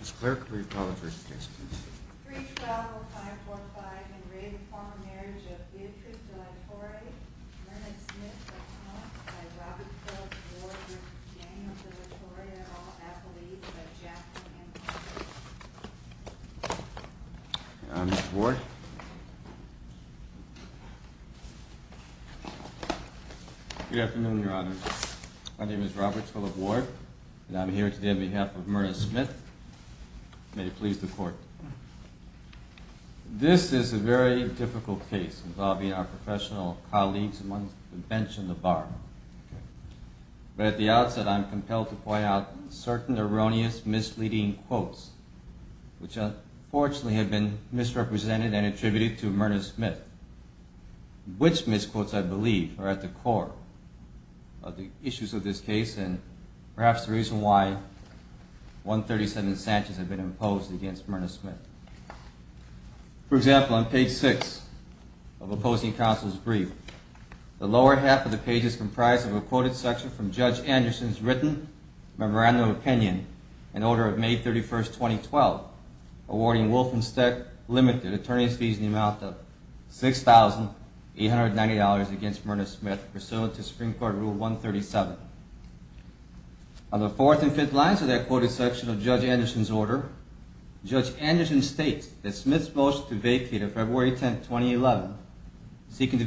Mr. Clerk, will you call the first case, please? 312-545 and re Former Marriage of Beatrice De La Torre, Myrna Smith, Accommodated by Robert Phillips Ward, James De La Torre, and all athletes by Jackson, Anaheim. Good afternoon, Your Honor. My name is Robert Phillips Ward, and I'm here today on behalf of Myrna Smith. May it please the Court. This is a very difficult case involving our professional colleagues amongst the bench and the bar. But at the outset, I'm compelled to point out certain erroneous, misleading quotes, which unfortunately have been misrepresented and attributed to Myrna Smith. Which misquotes, I believe, are at the core of the issues of this case, and perhaps the reason why 137 Sanchez had been imposed against Myrna Smith. For example, on page 6 of Opposing Counsel's Brief, the lower half of the page is comprised of a quoted section from Judge Anderson's written memorandum of opinion in order of May 31, 2012, awarding Wolfenstech Limited attorneys fees in the amount of $6,890 against Myrna Smith pursuant to Supreme Court Rule 137. On the fourth and fifth lines of that quoted section of Judge Anderson's order, Judge Anderson states that Smith's motion to vacate on February 10, 2011, seeking to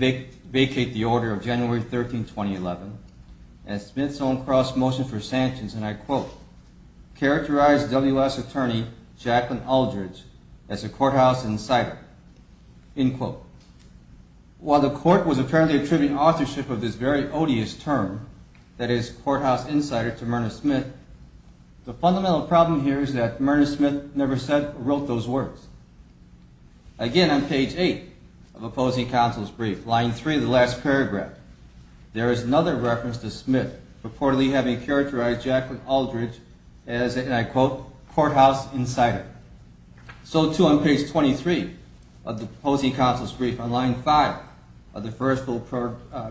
vacate the order of January 13, 2011, and Smith's own cross-motion for Sanchez, and I quote, characterized W.S. attorney Jacqueline Aldridge as a courthouse insider. End quote. While the Court was apparently attributing authorship of this very odious term, that is, courthouse insider, to Myrna Smith, the fundamental problem here is that Myrna Smith never said or wrote those words. Again, on page 8 of Opposing Counsel's Brief, line 3 of the last paragraph, there is another reference to Smith reportedly having characterized Jacqueline Aldridge as a, and I quote, courthouse insider. So, too, on page 23 of the Opposing Counsel's Brief, on line 5 of the first full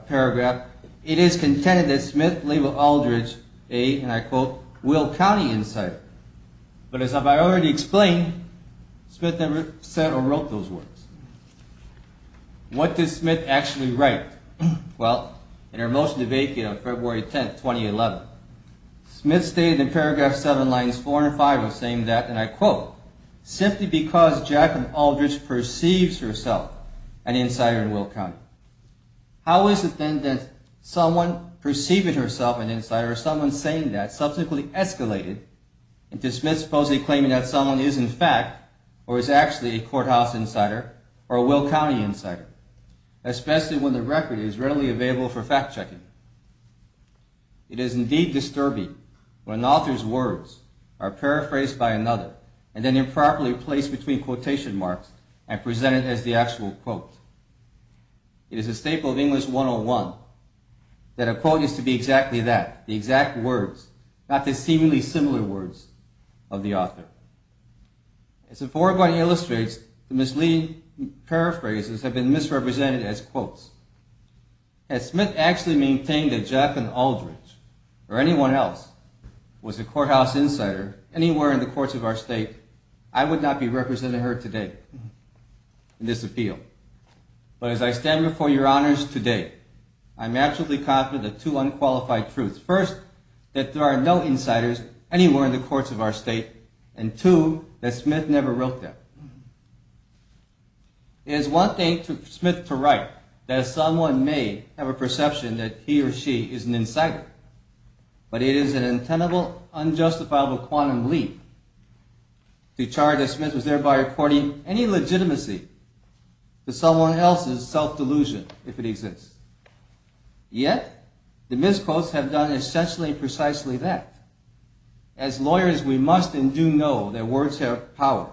paragraph, it is contended that Smith labeled Aldridge a, and I quote, Will County insider. But as I've already explained, Smith never said or wrote those words. What did Smith actually write? Well, in her motion to vacate on February 10, 2011, Smith stated in paragraph 7, lines 4 and 5 of saying that, and I quote, simply because Jacqueline Aldridge perceives herself an insider in Will County. How is it then that someone perceiving herself an insider or someone saying that subsequently escalated into whether or not Aldridge was actually a courthouse insider or a Will County insider, especially when the record is readily available for fact-checking? It is indeed disturbing when an author's words are paraphrased by another and then improperly placed between quotation marks and presented as the actual quote. It is a staple of English 101 that a quote is to be exactly that, the exact words, not the seemingly similar words of the author. As the foregoing illustrates, the misleading paraphrases have been misrepresented as quotes. Had Smith actually maintained that Jacqueline Aldridge or anyone else was a courthouse insider anywhere in the courts of our state, I would not be representing her today in this appeal. But as I stand before your honors today, I am absolutely confident of two unqualified truths. First, that there are no insiders anywhere in the courts of our state, and two, that Smith never wrote them. It is one thing for Smith to write that someone may have a perception that he or she is an insider, but it is an untenable, unjustifiable quantum leap to charge that Smith was thereby reporting any legitimacy to someone else's self-delusion, if it exists. Yet, the misquotes have done essentially and precisely that. As lawyers, we must and do know that words have power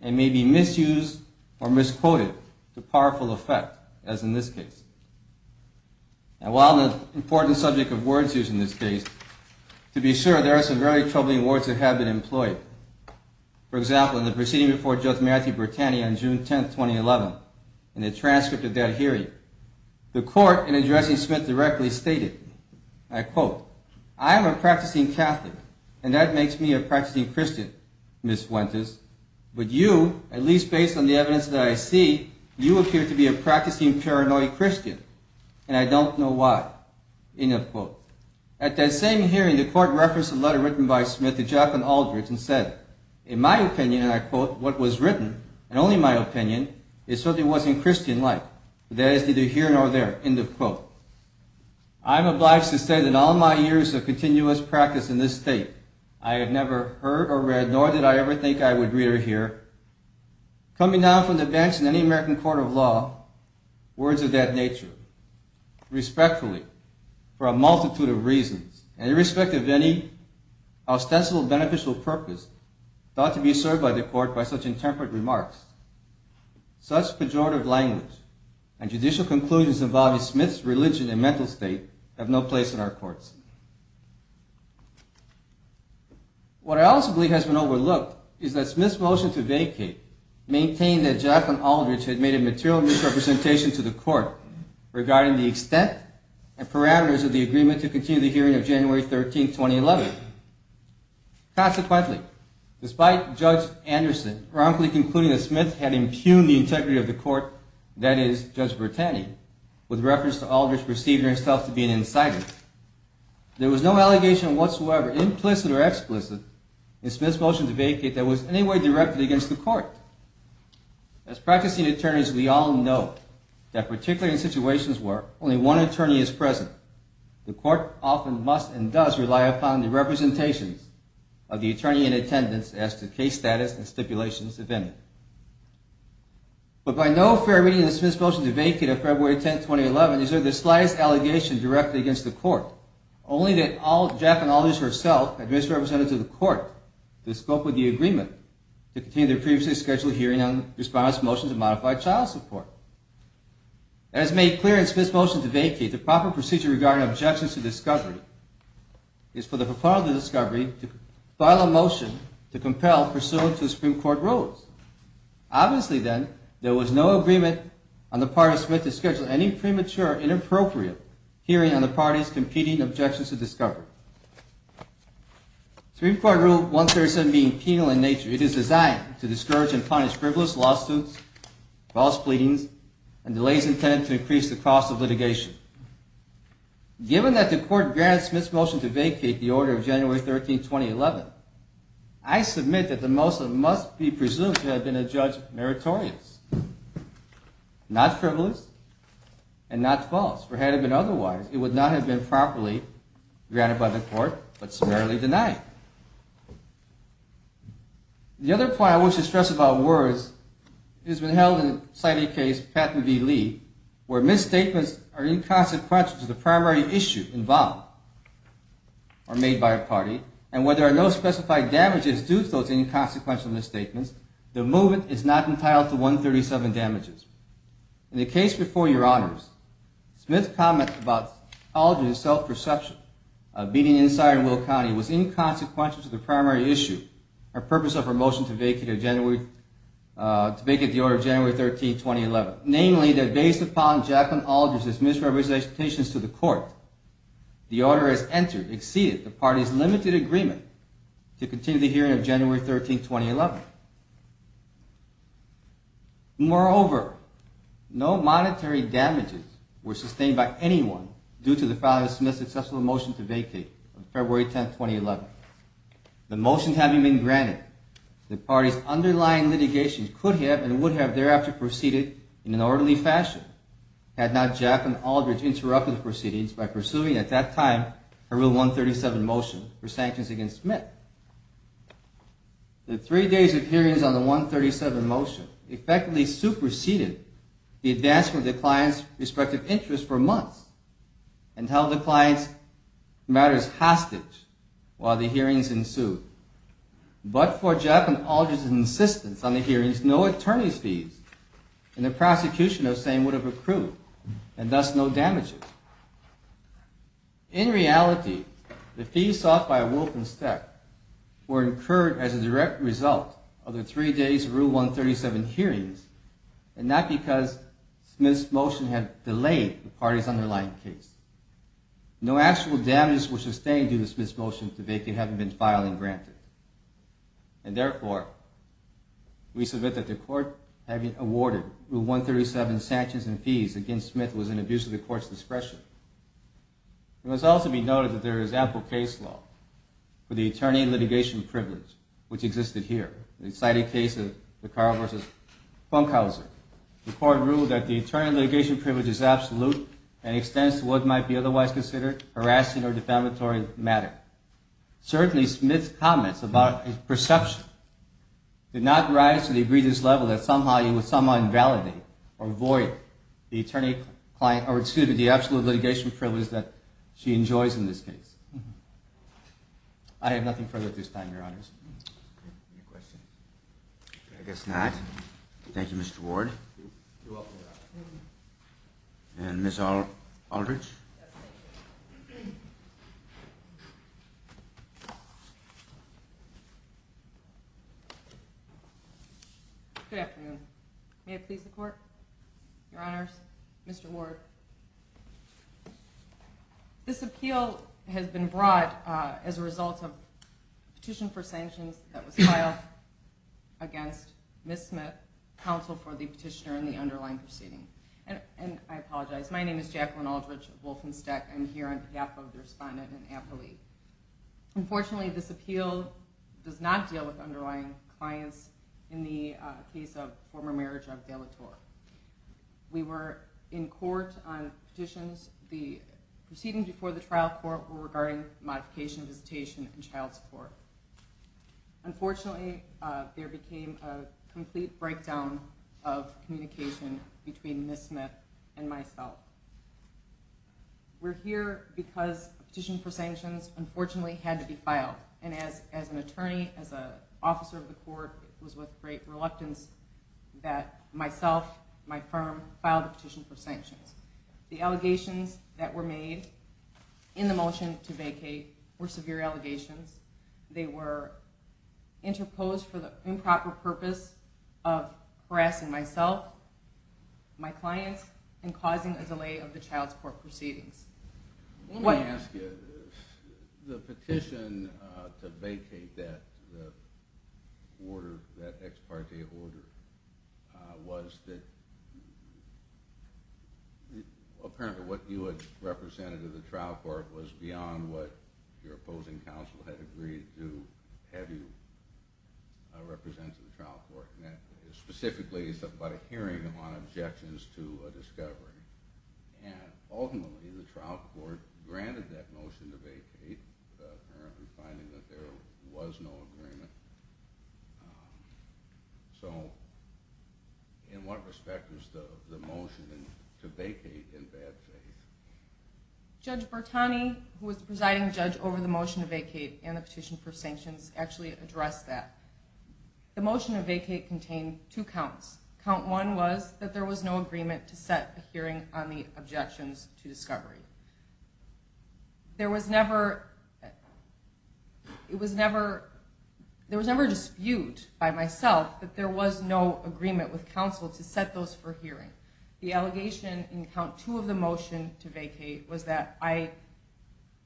and may be misused or misquoted to powerful effect, as in this case. And while an important subject of words use in this case, to be sure, there are some very troubling words that have been employed. For example, in the proceeding before Judge Matthew Bertani on June 10, 2011, in the transcript of that hearing, the court, in addressing Smith directly, stated, I quote, I am a practicing Catholic, and that makes me a practicing Christian, Ms. Winters, but you, at least based on the evidence that I see, you appear to be a practicing paranoid Christian, and I don't know why, end of quote. At that same hearing, the court referenced a letter written by Smith to Jacqueline Aldridge and said, in my opinion, and I quote, what was written, and only my opinion, is something that wasn't Christian-like. That is neither here nor there, end of quote. I am obliged to say that in all my years of continuous practice in this state, I have never heard or read, nor did I ever think I would read or hear, coming down from the bench in any American court of law, words of that nature, respectfully, for a multitude of reasons, and irrespective of any ostensible beneficial purpose thought to be served by the court by such intemperate remarks. Such pejorative language and judicial conclusions involving Smith's religion and mental state have no place in our courts. What I also believe has been overlooked is that Smith's motion to vacate maintained that Jacqueline Aldridge had made a material misrepresentation to the court regarding the extent and parameters of the agreement to continue the hearing of January 13, 2011. Consequently, despite Judge Anderson romantically concluding that Smith had impugned the integrity of the court, that is, Judge Bertani, with reference to Aldridge perceiving herself to be an incitement, there was no allegation whatsoever, implicit or explicit, in Smith's motion to vacate that was in any way directed against the court. As practicing attorneys, we all know that particularly in situations where only one attorney is present, the court often must and does rely upon the representations of the attorney in attendance as to case status and stipulations of any. But by no fair reading of Smith's motion to vacate of February 10, 2011, is there the slightest allegation directed against the court, only that Jacqueline Aldridge herself had misrepresented to the court the scope of the agreement to continue the previously scheduled hearing on the response motion to modify child support. As made clear in Smith's motion to vacate, the proper procedure regarding objections to discovery is for the proponent of the discovery to file a motion to compel pursuant to the Supreme Court rules. Obviously, then, there was no agreement on the part of Smith to schedule any premature or inappropriate hearing on the party's competing objections to discovery. Supreme Court Rule 137 being penal in nature, it is designed to discourage and punish frivolous lawsuits, false pleadings, and delays intended to increase the cost of litigation. Given that the court grants Smith's motion to vacate the order of January 13, 2011, I submit that the motion must be presumed to have been a judge meritorious, not frivolous, and not false. For had it been otherwise, it would not have been properly granted by the court, but summarily denied. The other point I wish to stress about WERS has been held in the citing case Patton v. Lee, where misstatements are inconsequential to the primary issue involved or made by a party, and where there are no specified damages due to those inconsequential misstatements, the movement is not entitled to 137 damages. In the case before Your Honors, Smith's comment about Aldridge's self-perception of beating an insider in Will County was inconsequential to the primary issue or purpose of her motion to vacate the order of January 13, 2011, namely that based upon Jacqueline Aldridge's misrepresentations to the court, the order has entered, exceeded the party's limited agreement to continue the hearing of January 13, 2011. Moreover, no monetary damages were sustained by anyone due to the failure of Smith's successful motion to vacate on February 10, 2011. The motion having been granted, the party's underlying litigation could have and would have thereafter proceeded in an orderly fashion had not Jacqueline Aldridge interrupted the proceedings by pursuing at that time a real 137 motion for sanctions against Smith. The three days of hearings on the 137 motion effectively superseded the advancement of the client's respective interests for months and held the client's matters hostage while the hearings ensued. But for Jacqueline Aldridge's insistence on the hearings, no attorney's fees and the prosecution of the same would have accrued, and thus no damages. In reality, the fees sought by a Wilkins step were incurred as a direct result of the three days of Rule 137 hearings and not because Smith's motion had delayed the party's underlying case. No actual damages were sustained due to Smith's motion to vacate having been filed and granted. And therefore, we submit that the court having awarded Rule 137 sanctions and fees against Smith was an abuse of the court's discretion. It must also be noted that there is ample case law for the attorney litigation privilege which existed here. In the cited case of the Carl v. Funkhauser, the court ruled that the attorney litigation privilege is absolute and extends to what might be otherwise considered harassing or defamatory matter. Certainly, Smith's comments about perception did not rise to the egregious level that somehow you would somehow invalidate or void the absolute litigation privilege that she enjoys in this case. I have nothing further at this time, Your Honors. Any questions? I guess not. Thank you, Mr. Ward. You're welcome, Your Honor. And Ms. Aldrich? Yes, thank you. Good afternoon. May it please the Court? Your Honors, Mr. Ward. This appeal has been brought as a result of a petition for sanctions that was filed against Ms. Smith, counsel for the petitioner in the underlying proceeding. And I apologize. My name is Jacqueline Aldrich of Wolfenstech. I'm here on behalf of the respondent and appellee. Unfortunately, this appeal does not deal with underlying clients in the case of former marriage of Della Torre. We were in court on petitions. The proceedings before the trial court were regarding modification, visitation, and child support. Unfortunately, there became a complete breakdown of communication between Ms. Smith and myself. We're here because a petition for sanctions, unfortunately, had to be filed. And as an attorney, as an officer of the court, it was with great reluctance that myself, my firm, filed a petition for sanctions. The allegations that were made in the motion to vacate were severe allegations. They were interposed for the improper purpose of harassing myself, my clients, and causing a delay of the child support proceedings. Let me ask you, the petition to vacate that order, that ex parte order, was that apparently what you had represented to the trial court was beyond what your opposing counsel had agreed to have you represent to the trial court. Specifically, it's about a hearing on objections to a discovery. Ultimately, the trial court granted that motion to vacate, apparently finding that there was no agreement. So, in what respect was the motion to vacate in bad faith? Judge Bertani, who was presiding judge over the motion to vacate and the petition for sanctions, actually addressed that. The motion to vacate contained two counts. Count one was that there was no agreement to set a hearing on the objections to discovery. There was never a dispute by myself that there was no agreement with counsel to set those for hearing. The allegation in count two of the motion to vacate was that I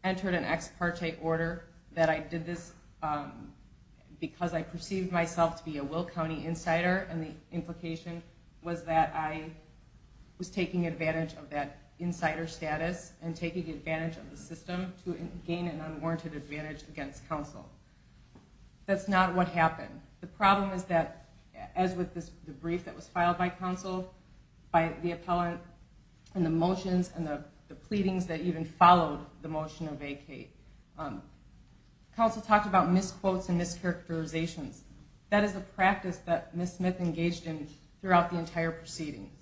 entered an ex parte order, that I did this because I perceived myself to be a Will County insider, and the implication was that I was taking advantage of that insider status and taking advantage of the system to gain an unwarranted advantage against counsel. That's not what happened. The problem is that, as with the brief that was filed by counsel, by the appellant and the motions and the pleadings that even followed the motion to vacate, counsel talked about misquotes and mischaracterizations. That is a practice that Ms. Smith engaged in throughout the entire proceedings.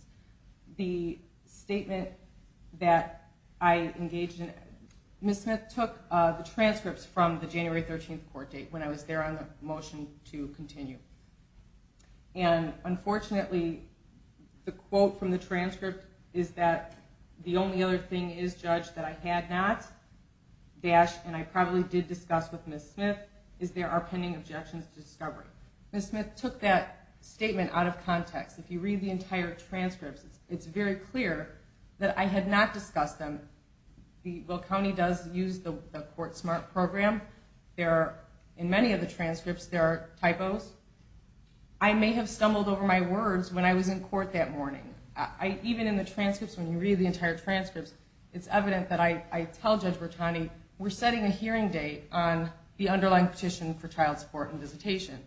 The statement that I engaged in, Ms. Smith took the transcripts from the January 13th court date when I was there on the motion to continue. And, unfortunately, the quote from the transcript is that the only other thing is judged that I had not, and I probably did discuss with Ms. Smith, is there are pending objections to discovery. Ms. Smith took that statement out of context. If you read the entire transcripts, it's very clear that I had not discussed them. Will County does use the CourtSmart program. In many of the transcripts there are typos. I may have stumbled over my words when I was in court that morning. Even in the transcripts, when you read the entire transcripts, it's evident that I tell Judge Bertani, we're setting a hearing date on the underlying petition for child support and visitation.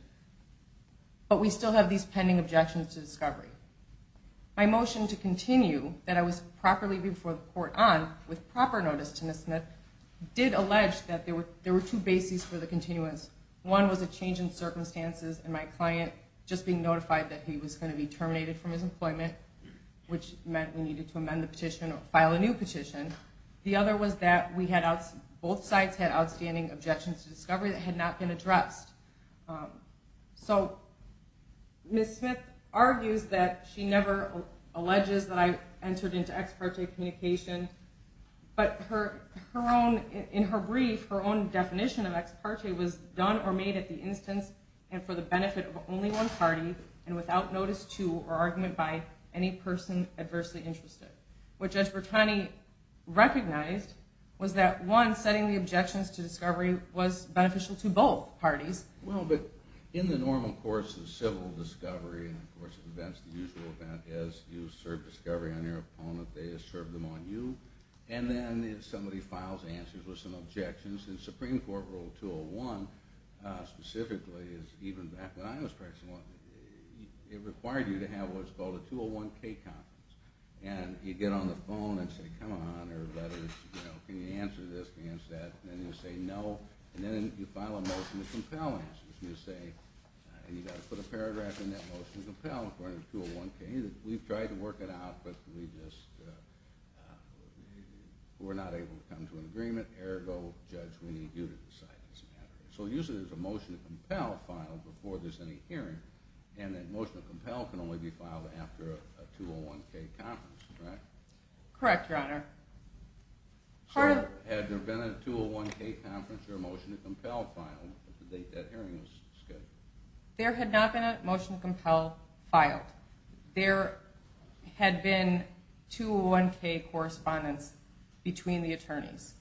But we still have these pending objections to discovery. My motion to continue, that I was properly before the court on, with proper notice to Ms. Smith, did allege that there were two bases for the continuance. One was a change in circumstances and my client just being notified that he was going to be terminated from his employment. Which meant we needed to amend the petition or file a new petition. The other was that both sides had outstanding objections to discovery that had not been addressed. So Ms. Smith argues that she never alleges that I entered into ex parte communication. But in her brief, her own definition of ex parte was done or made at the instance and for the benefit of only one party and without notice to or argument by any person adversely interested. What Judge Bertani recognized was that one, setting the objections to discovery was beneficial to both parties. Well, but in the normal course of civil discovery, and of course the usual event is you serve discovery on your opponent, they serve them on you, and then somebody files answers with some objections. For instance, Supreme Court Rule 201 specifically, even back when I was practicing law, it required you to have what's called a 201K conference. And you'd get on the phone and say, come on everybody, can you answer this, can you answer that? And then you say no, and then you file a motion to compel answers. And you say, you've got to put a paragraph in that motion to compel according to 201K. We've tried to work it out, but we're not able to come to an agreement. Ergo, Judge, we need you to decide this matter. So usually there's a motion to compel filed before there's any hearing, and that motion to compel can only be filed after a 201K conference, correct? Correct, Your Honor. Had there been a 201K conference or a motion to compel filed at the date that hearing was scheduled? There had not been a motion to compel filed. There had been 201K correspondence between the attorneys.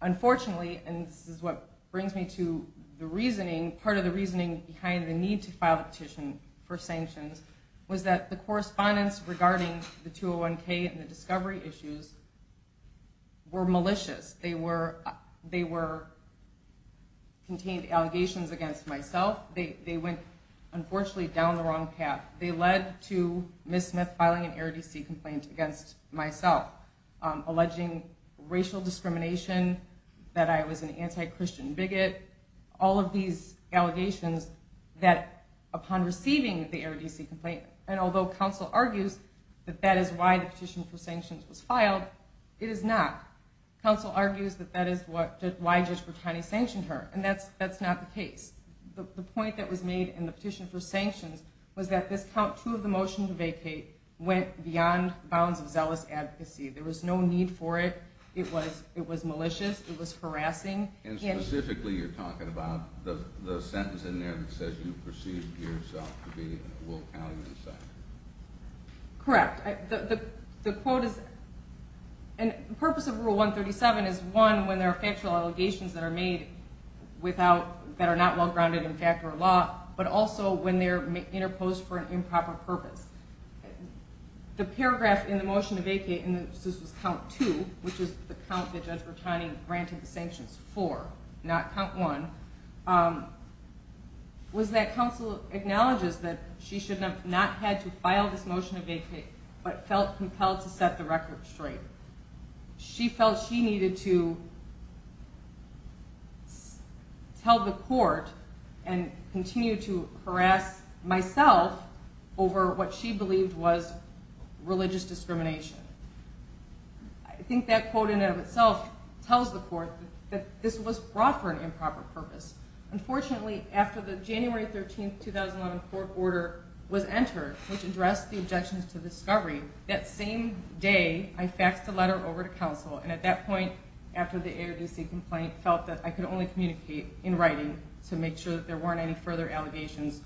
Unfortunately, and this is what brings me to the reasoning, part of the reasoning behind the need to file a petition for sanctions, was that the correspondence regarding the 201K and the discovery issues were malicious. They contained allegations against myself. They went, unfortunately, down the wrong path. They led to Ms. Smith filing an error DC complaint against myself, alleging racial discrimination, that I was an anti-Christian bigot, all of these allegations that upon receiving the error DC complaint, and although counsel argues that that is why the petition for sanctions was filed, it is not. Counsel argues that that is why Judge Bertani sanctioned her, and that's not the case. The point that was made in the petition for sanctions was that this count two of the motion to vacate went beyond bounds of zealous advocacy. There was no need for it. It was malicious. It was harassing. And specifically, you're talking about the sentence in there that says you perceived yourself to be a Wolf Alleyon sex offender. Correct. The quote is, and the purpose of Rule 137 is, one, when there are factual allegations that are made without, that are not well-grounded in fact or law, but also when they're interposed for an improper purpose. The paragraph in the motion to vacate, and this was count two, which is the count that Judge Bertani granted the sanctions for, not count one, was that counsel acknowledges that she should not have had to file this motion to vacate, but felt compelled to set the record straight. She felt she needed to tell the court and continue to harass myself over what she believed was religious discrimination. I think that quote in and of itself tells the court that this was brought for an improper purpose. Unfortunately, after the January 13, 2011 court order was entered, which addressed the objections to discovery, that same day I faxed a letter over to counsel, and at that point, after the ARDC complaint, felt that I could only communicate in writing to make sure that there weren't any further allegations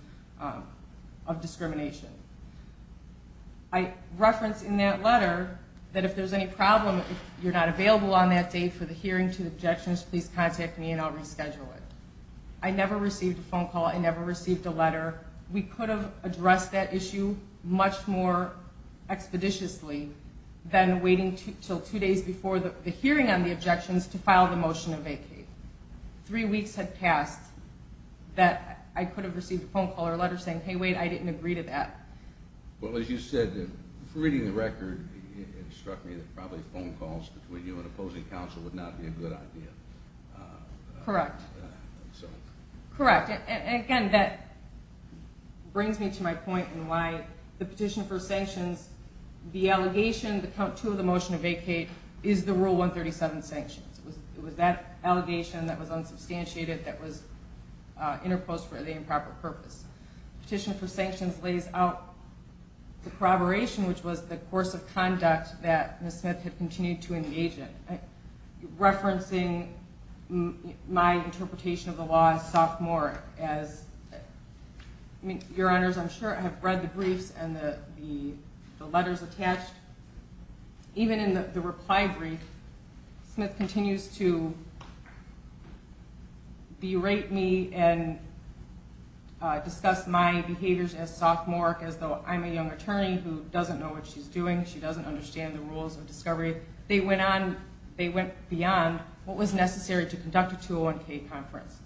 of discrimination. I referenced in that letter that if there's any problem, if you're not available on that day for the hearing to the objections, please contact me and I'll reschedule it. I never received a phone call. I never received a letter. We could have addressed that issue much more expeditiously than waiting until two days before the hearing on the objections to file the motion to vacate. Three weeks had passed that I could have received a phone call or letter saying, hey, wait, I didn't agree to that. Well, as you said, reading the record, it struck me that probably phone calls between you and opposing counsel would not be a good idea. Correct. Correct. Again, that brings me to my point in why the petition for sanctions, the allegation to the motion to vacate is the Rule 137 sanctions. It was that allegation that was unsubstantiated that was interposed for the improper purpose. The petition for sanctions lays out the corroboration, which was the course of conduct that Ms. Smith had continued to engage in. Referencing my interpretation of the law as a sophomore, as your honors, I'm sure have read the briefs and the letters attached. Even in the reply brief, Smith continues to berate me and discuss my behaviors as sophomoric, as though I'm a young attorney who doesn't know what she's doing. She doesn't understand the rules of discovery. They went beyond what was necessary to conduct a 201K conference.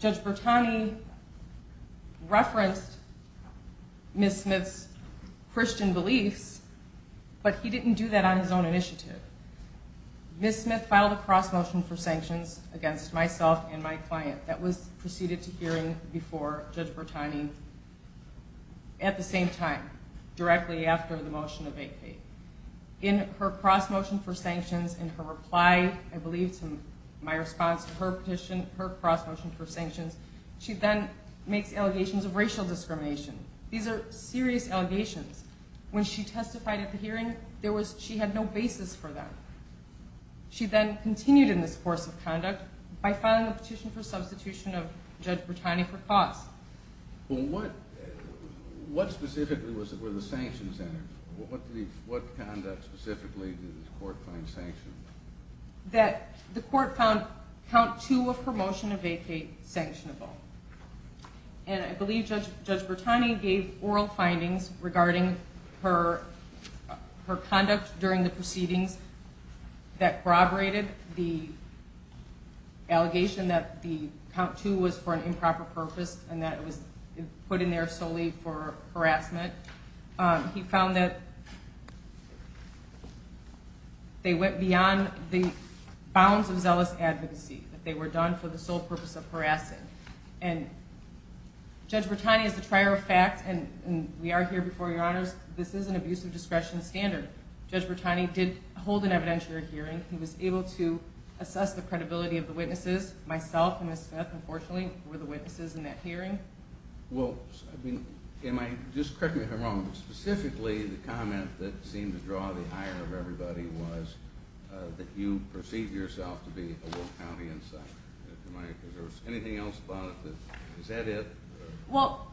Judge Bertani referenced Ms. Smith's Christian beliefs, but he didn't do that on his own initiative. Ms. Smith filed a cross-motion for sanctions against myself and my client. That was proceeded to hearing before Judge Bertani at the same time, directly after the motion to vacate. In her cross-motion for sanctions, in her reply, I believe, to my response to her cross-motion for sanctions, she then makes allegations of racial discrimination. These are serious allegations. When she testified at the hearing, she had no basis for that. She then continued in this course of conduct by filing a petition for substitution of Judge Bertani for costs. What specifically were the sanctions? What conduct specifically did the court find sanctioned? The court found Count 2 of her motion to vacate sanctionable. I believe Judge Bertani gave oral findings regarding her conduct during the proceedings that corroborated the allegation that the Count 2 was for an improper purpose and that it was put in there solely for harassment. He found that they went beyond the bounds of zealous advocacy, that they were done for the sole purpose of harassing. And Judge Bertani is the trier of facts, and we are here before your honors. This is an abuse of discretion standard. Judge Bertani did hold an evidentiary hearing. He was able to assess the credibility of the witnesses. Myself and Ms. Smith, unfortunately, were the witnesses in that hearing. Well, just correct me if I'm wrong, but specifically the comment that seemed to draw the ire of everybody was that you perceived yourself to be a Will County insider. Is there anything else about it? Is that it? Well,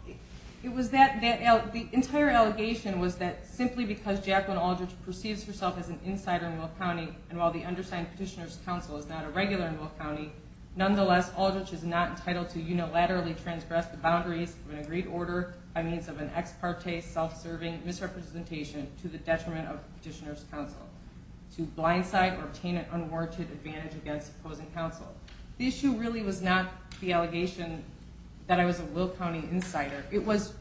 the entire allegation was that simply because Jacqueline Aldridge perceives herself as an insider in Will County and while the undersigned petitioner's counsel is not a regular in Will County, nonetheless Aldridge is not entitled to unilaterally transgress the boundaries of an agreed order by means of an ex parte self-serving misrepresentation to the detriment of the petitioner's counsel to blindside or obtain an unwarranted advantage against opposing counsel. The issue really was not the allegation that I was a Will County insider. It was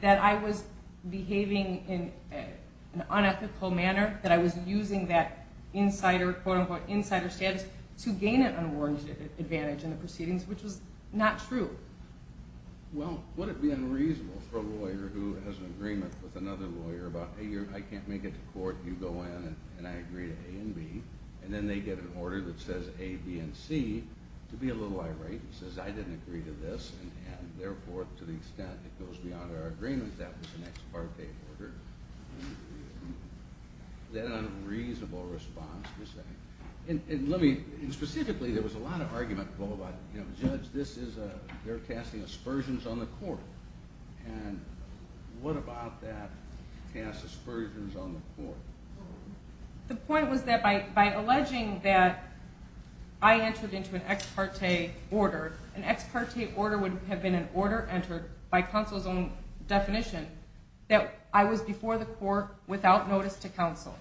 that I was behaving in an unethical manner, that I was using that quote-unquote insider status to gain an unwarranted advantage in the proceedings, which was not true. Well, would it be unreasonable for a lawyer who has an agreement with another lawyer about, hey, I can't make it to court, you go in and I agree to A and B, and then they get an order that says A, B, and C, to be a little irate and says, I didn't agree to this and therefore to the extent it goes beyond our agreement, that was an ex parte order. Is that an unreasonable response? Specifically, there was a lot of argument about, judge, they're casting aspersions on the court. And what about that, to cast aspersions on the court? The point was that by alleging that I entered into an ex parte order, an ex parte order would have been an order entered by counsel's own definition, that I was before the court without notice to counsel,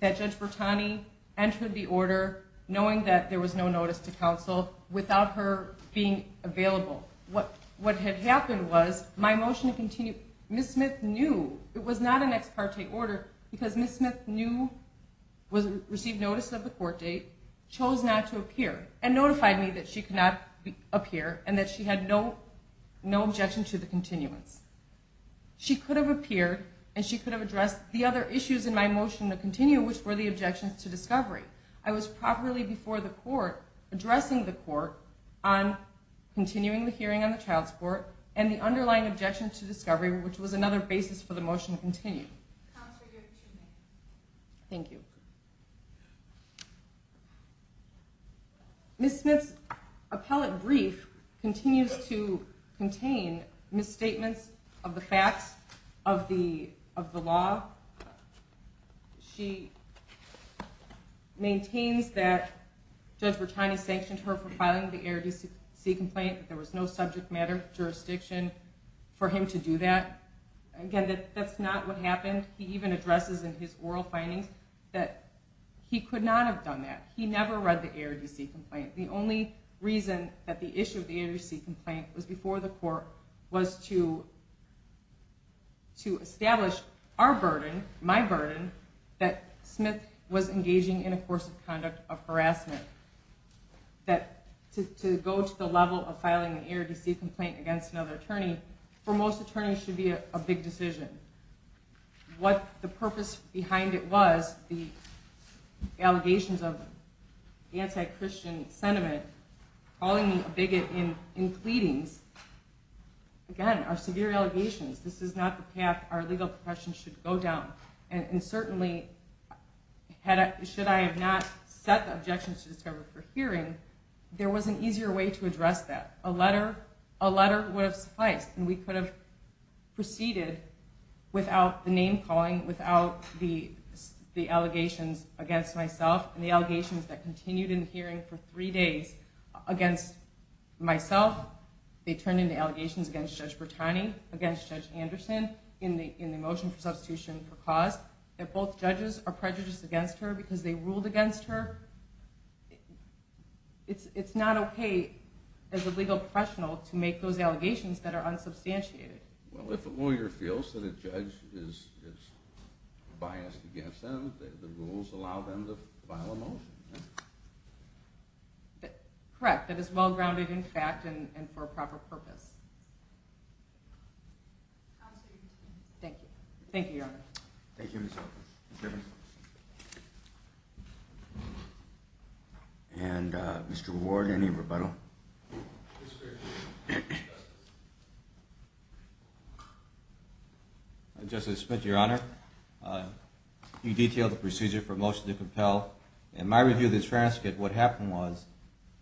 that Judge Bertani entered the order knowing that there was no notice to counsel without her being available. What had happened was, my motion to continue, Ms. Smith knew it was not an ex parte order because Ms. Smith received notice of the court date, chose not to appear, and notified me that she could not appear and that she had no objection to the continuance. She could have appeared and she could have addressed the other issues in my motion to continue, which were the objections to discovery. I was properly before the court, addressing the court on continuing the hearing on the child support, and the underlying objections to discovery, which was another basis for the motion to continue. Counsel, you have two minutes. Thank you. Ms. Smith's appellate brief continues to contain misstatements of the facts of the law. She maintains that Judge Bertani sanctioned her for filing the error decency complaint, that there was no subject matter jurisdiction for him to do that. Again, that's not what happened. He even addresses in his oral findings that he could not have done that. He never read the error decency complaint. The only reason that the issue of the error decency complaint was before the court was to establish our burden, my burden, that Smith was engaging in a course of conduct of harassment. That to go to the level of filing an error decency complaint against another attorney, for most attorneys, should be a big decision. What the purpose behind it was, the allegations of anti-Christian sentiment, calling me a bigot in pleadings, again, are severe allegations. This is not the path our legal profession should go down. And certainly, should I have not set the objections to discovery for hearing, there was an easier way to address that. A letter would have sufficed, and we could have proceeded without the name-calling, without the allegations against myself, and the allegations that continued in the hearing for three days against myself. They turned into allegations against Judge Bertani, against Judge Anderson, in the motion for substitution for cause, that both judges are prejudiced against her because they ruled against her. It's not okay as a legal professional to make those allegations that are unsubstantiated. Well, if a lawyer feels that a judge is biased against them, the rules allow them to file a motion. Correct. That is well-grounded in fact and for a proper purpose. Thank you. Thank you, Your Honor. Thank you, Ms. Hoffman. Mr. Evans. And Mr. Ward, any rebuttal? Mr. Smith, Your Honor, you detailed the procedure for motion to compel. In my review of this transcript, what happened was,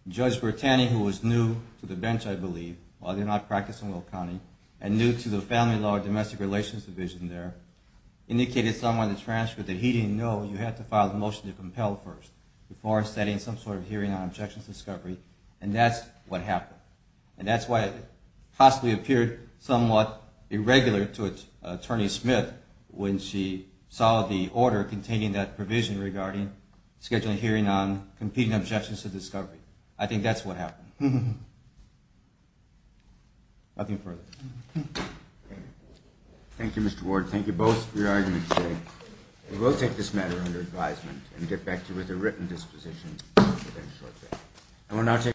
Judge Bertani, who was new to the bench, I believe, while they're not practiced in Will County, and new to the Family Law and Domestic Relations Division there, indicated somewhere in the transcript that he didn't know you had to file the motion to compel first before setting some sort of hearing on objections to discovery. And that's what happened. And that's why it possibly appeared somewhat irregular to Attorney Smith when she saw the order containing that provision regarding scheduling a hearing on competing objections to discovery. I think that's what happened. Nothing further. Thank you, Mr. Ward. Thank you both for your arguments today. We will take this matter under advisement and get back to you with a written disposition shortly.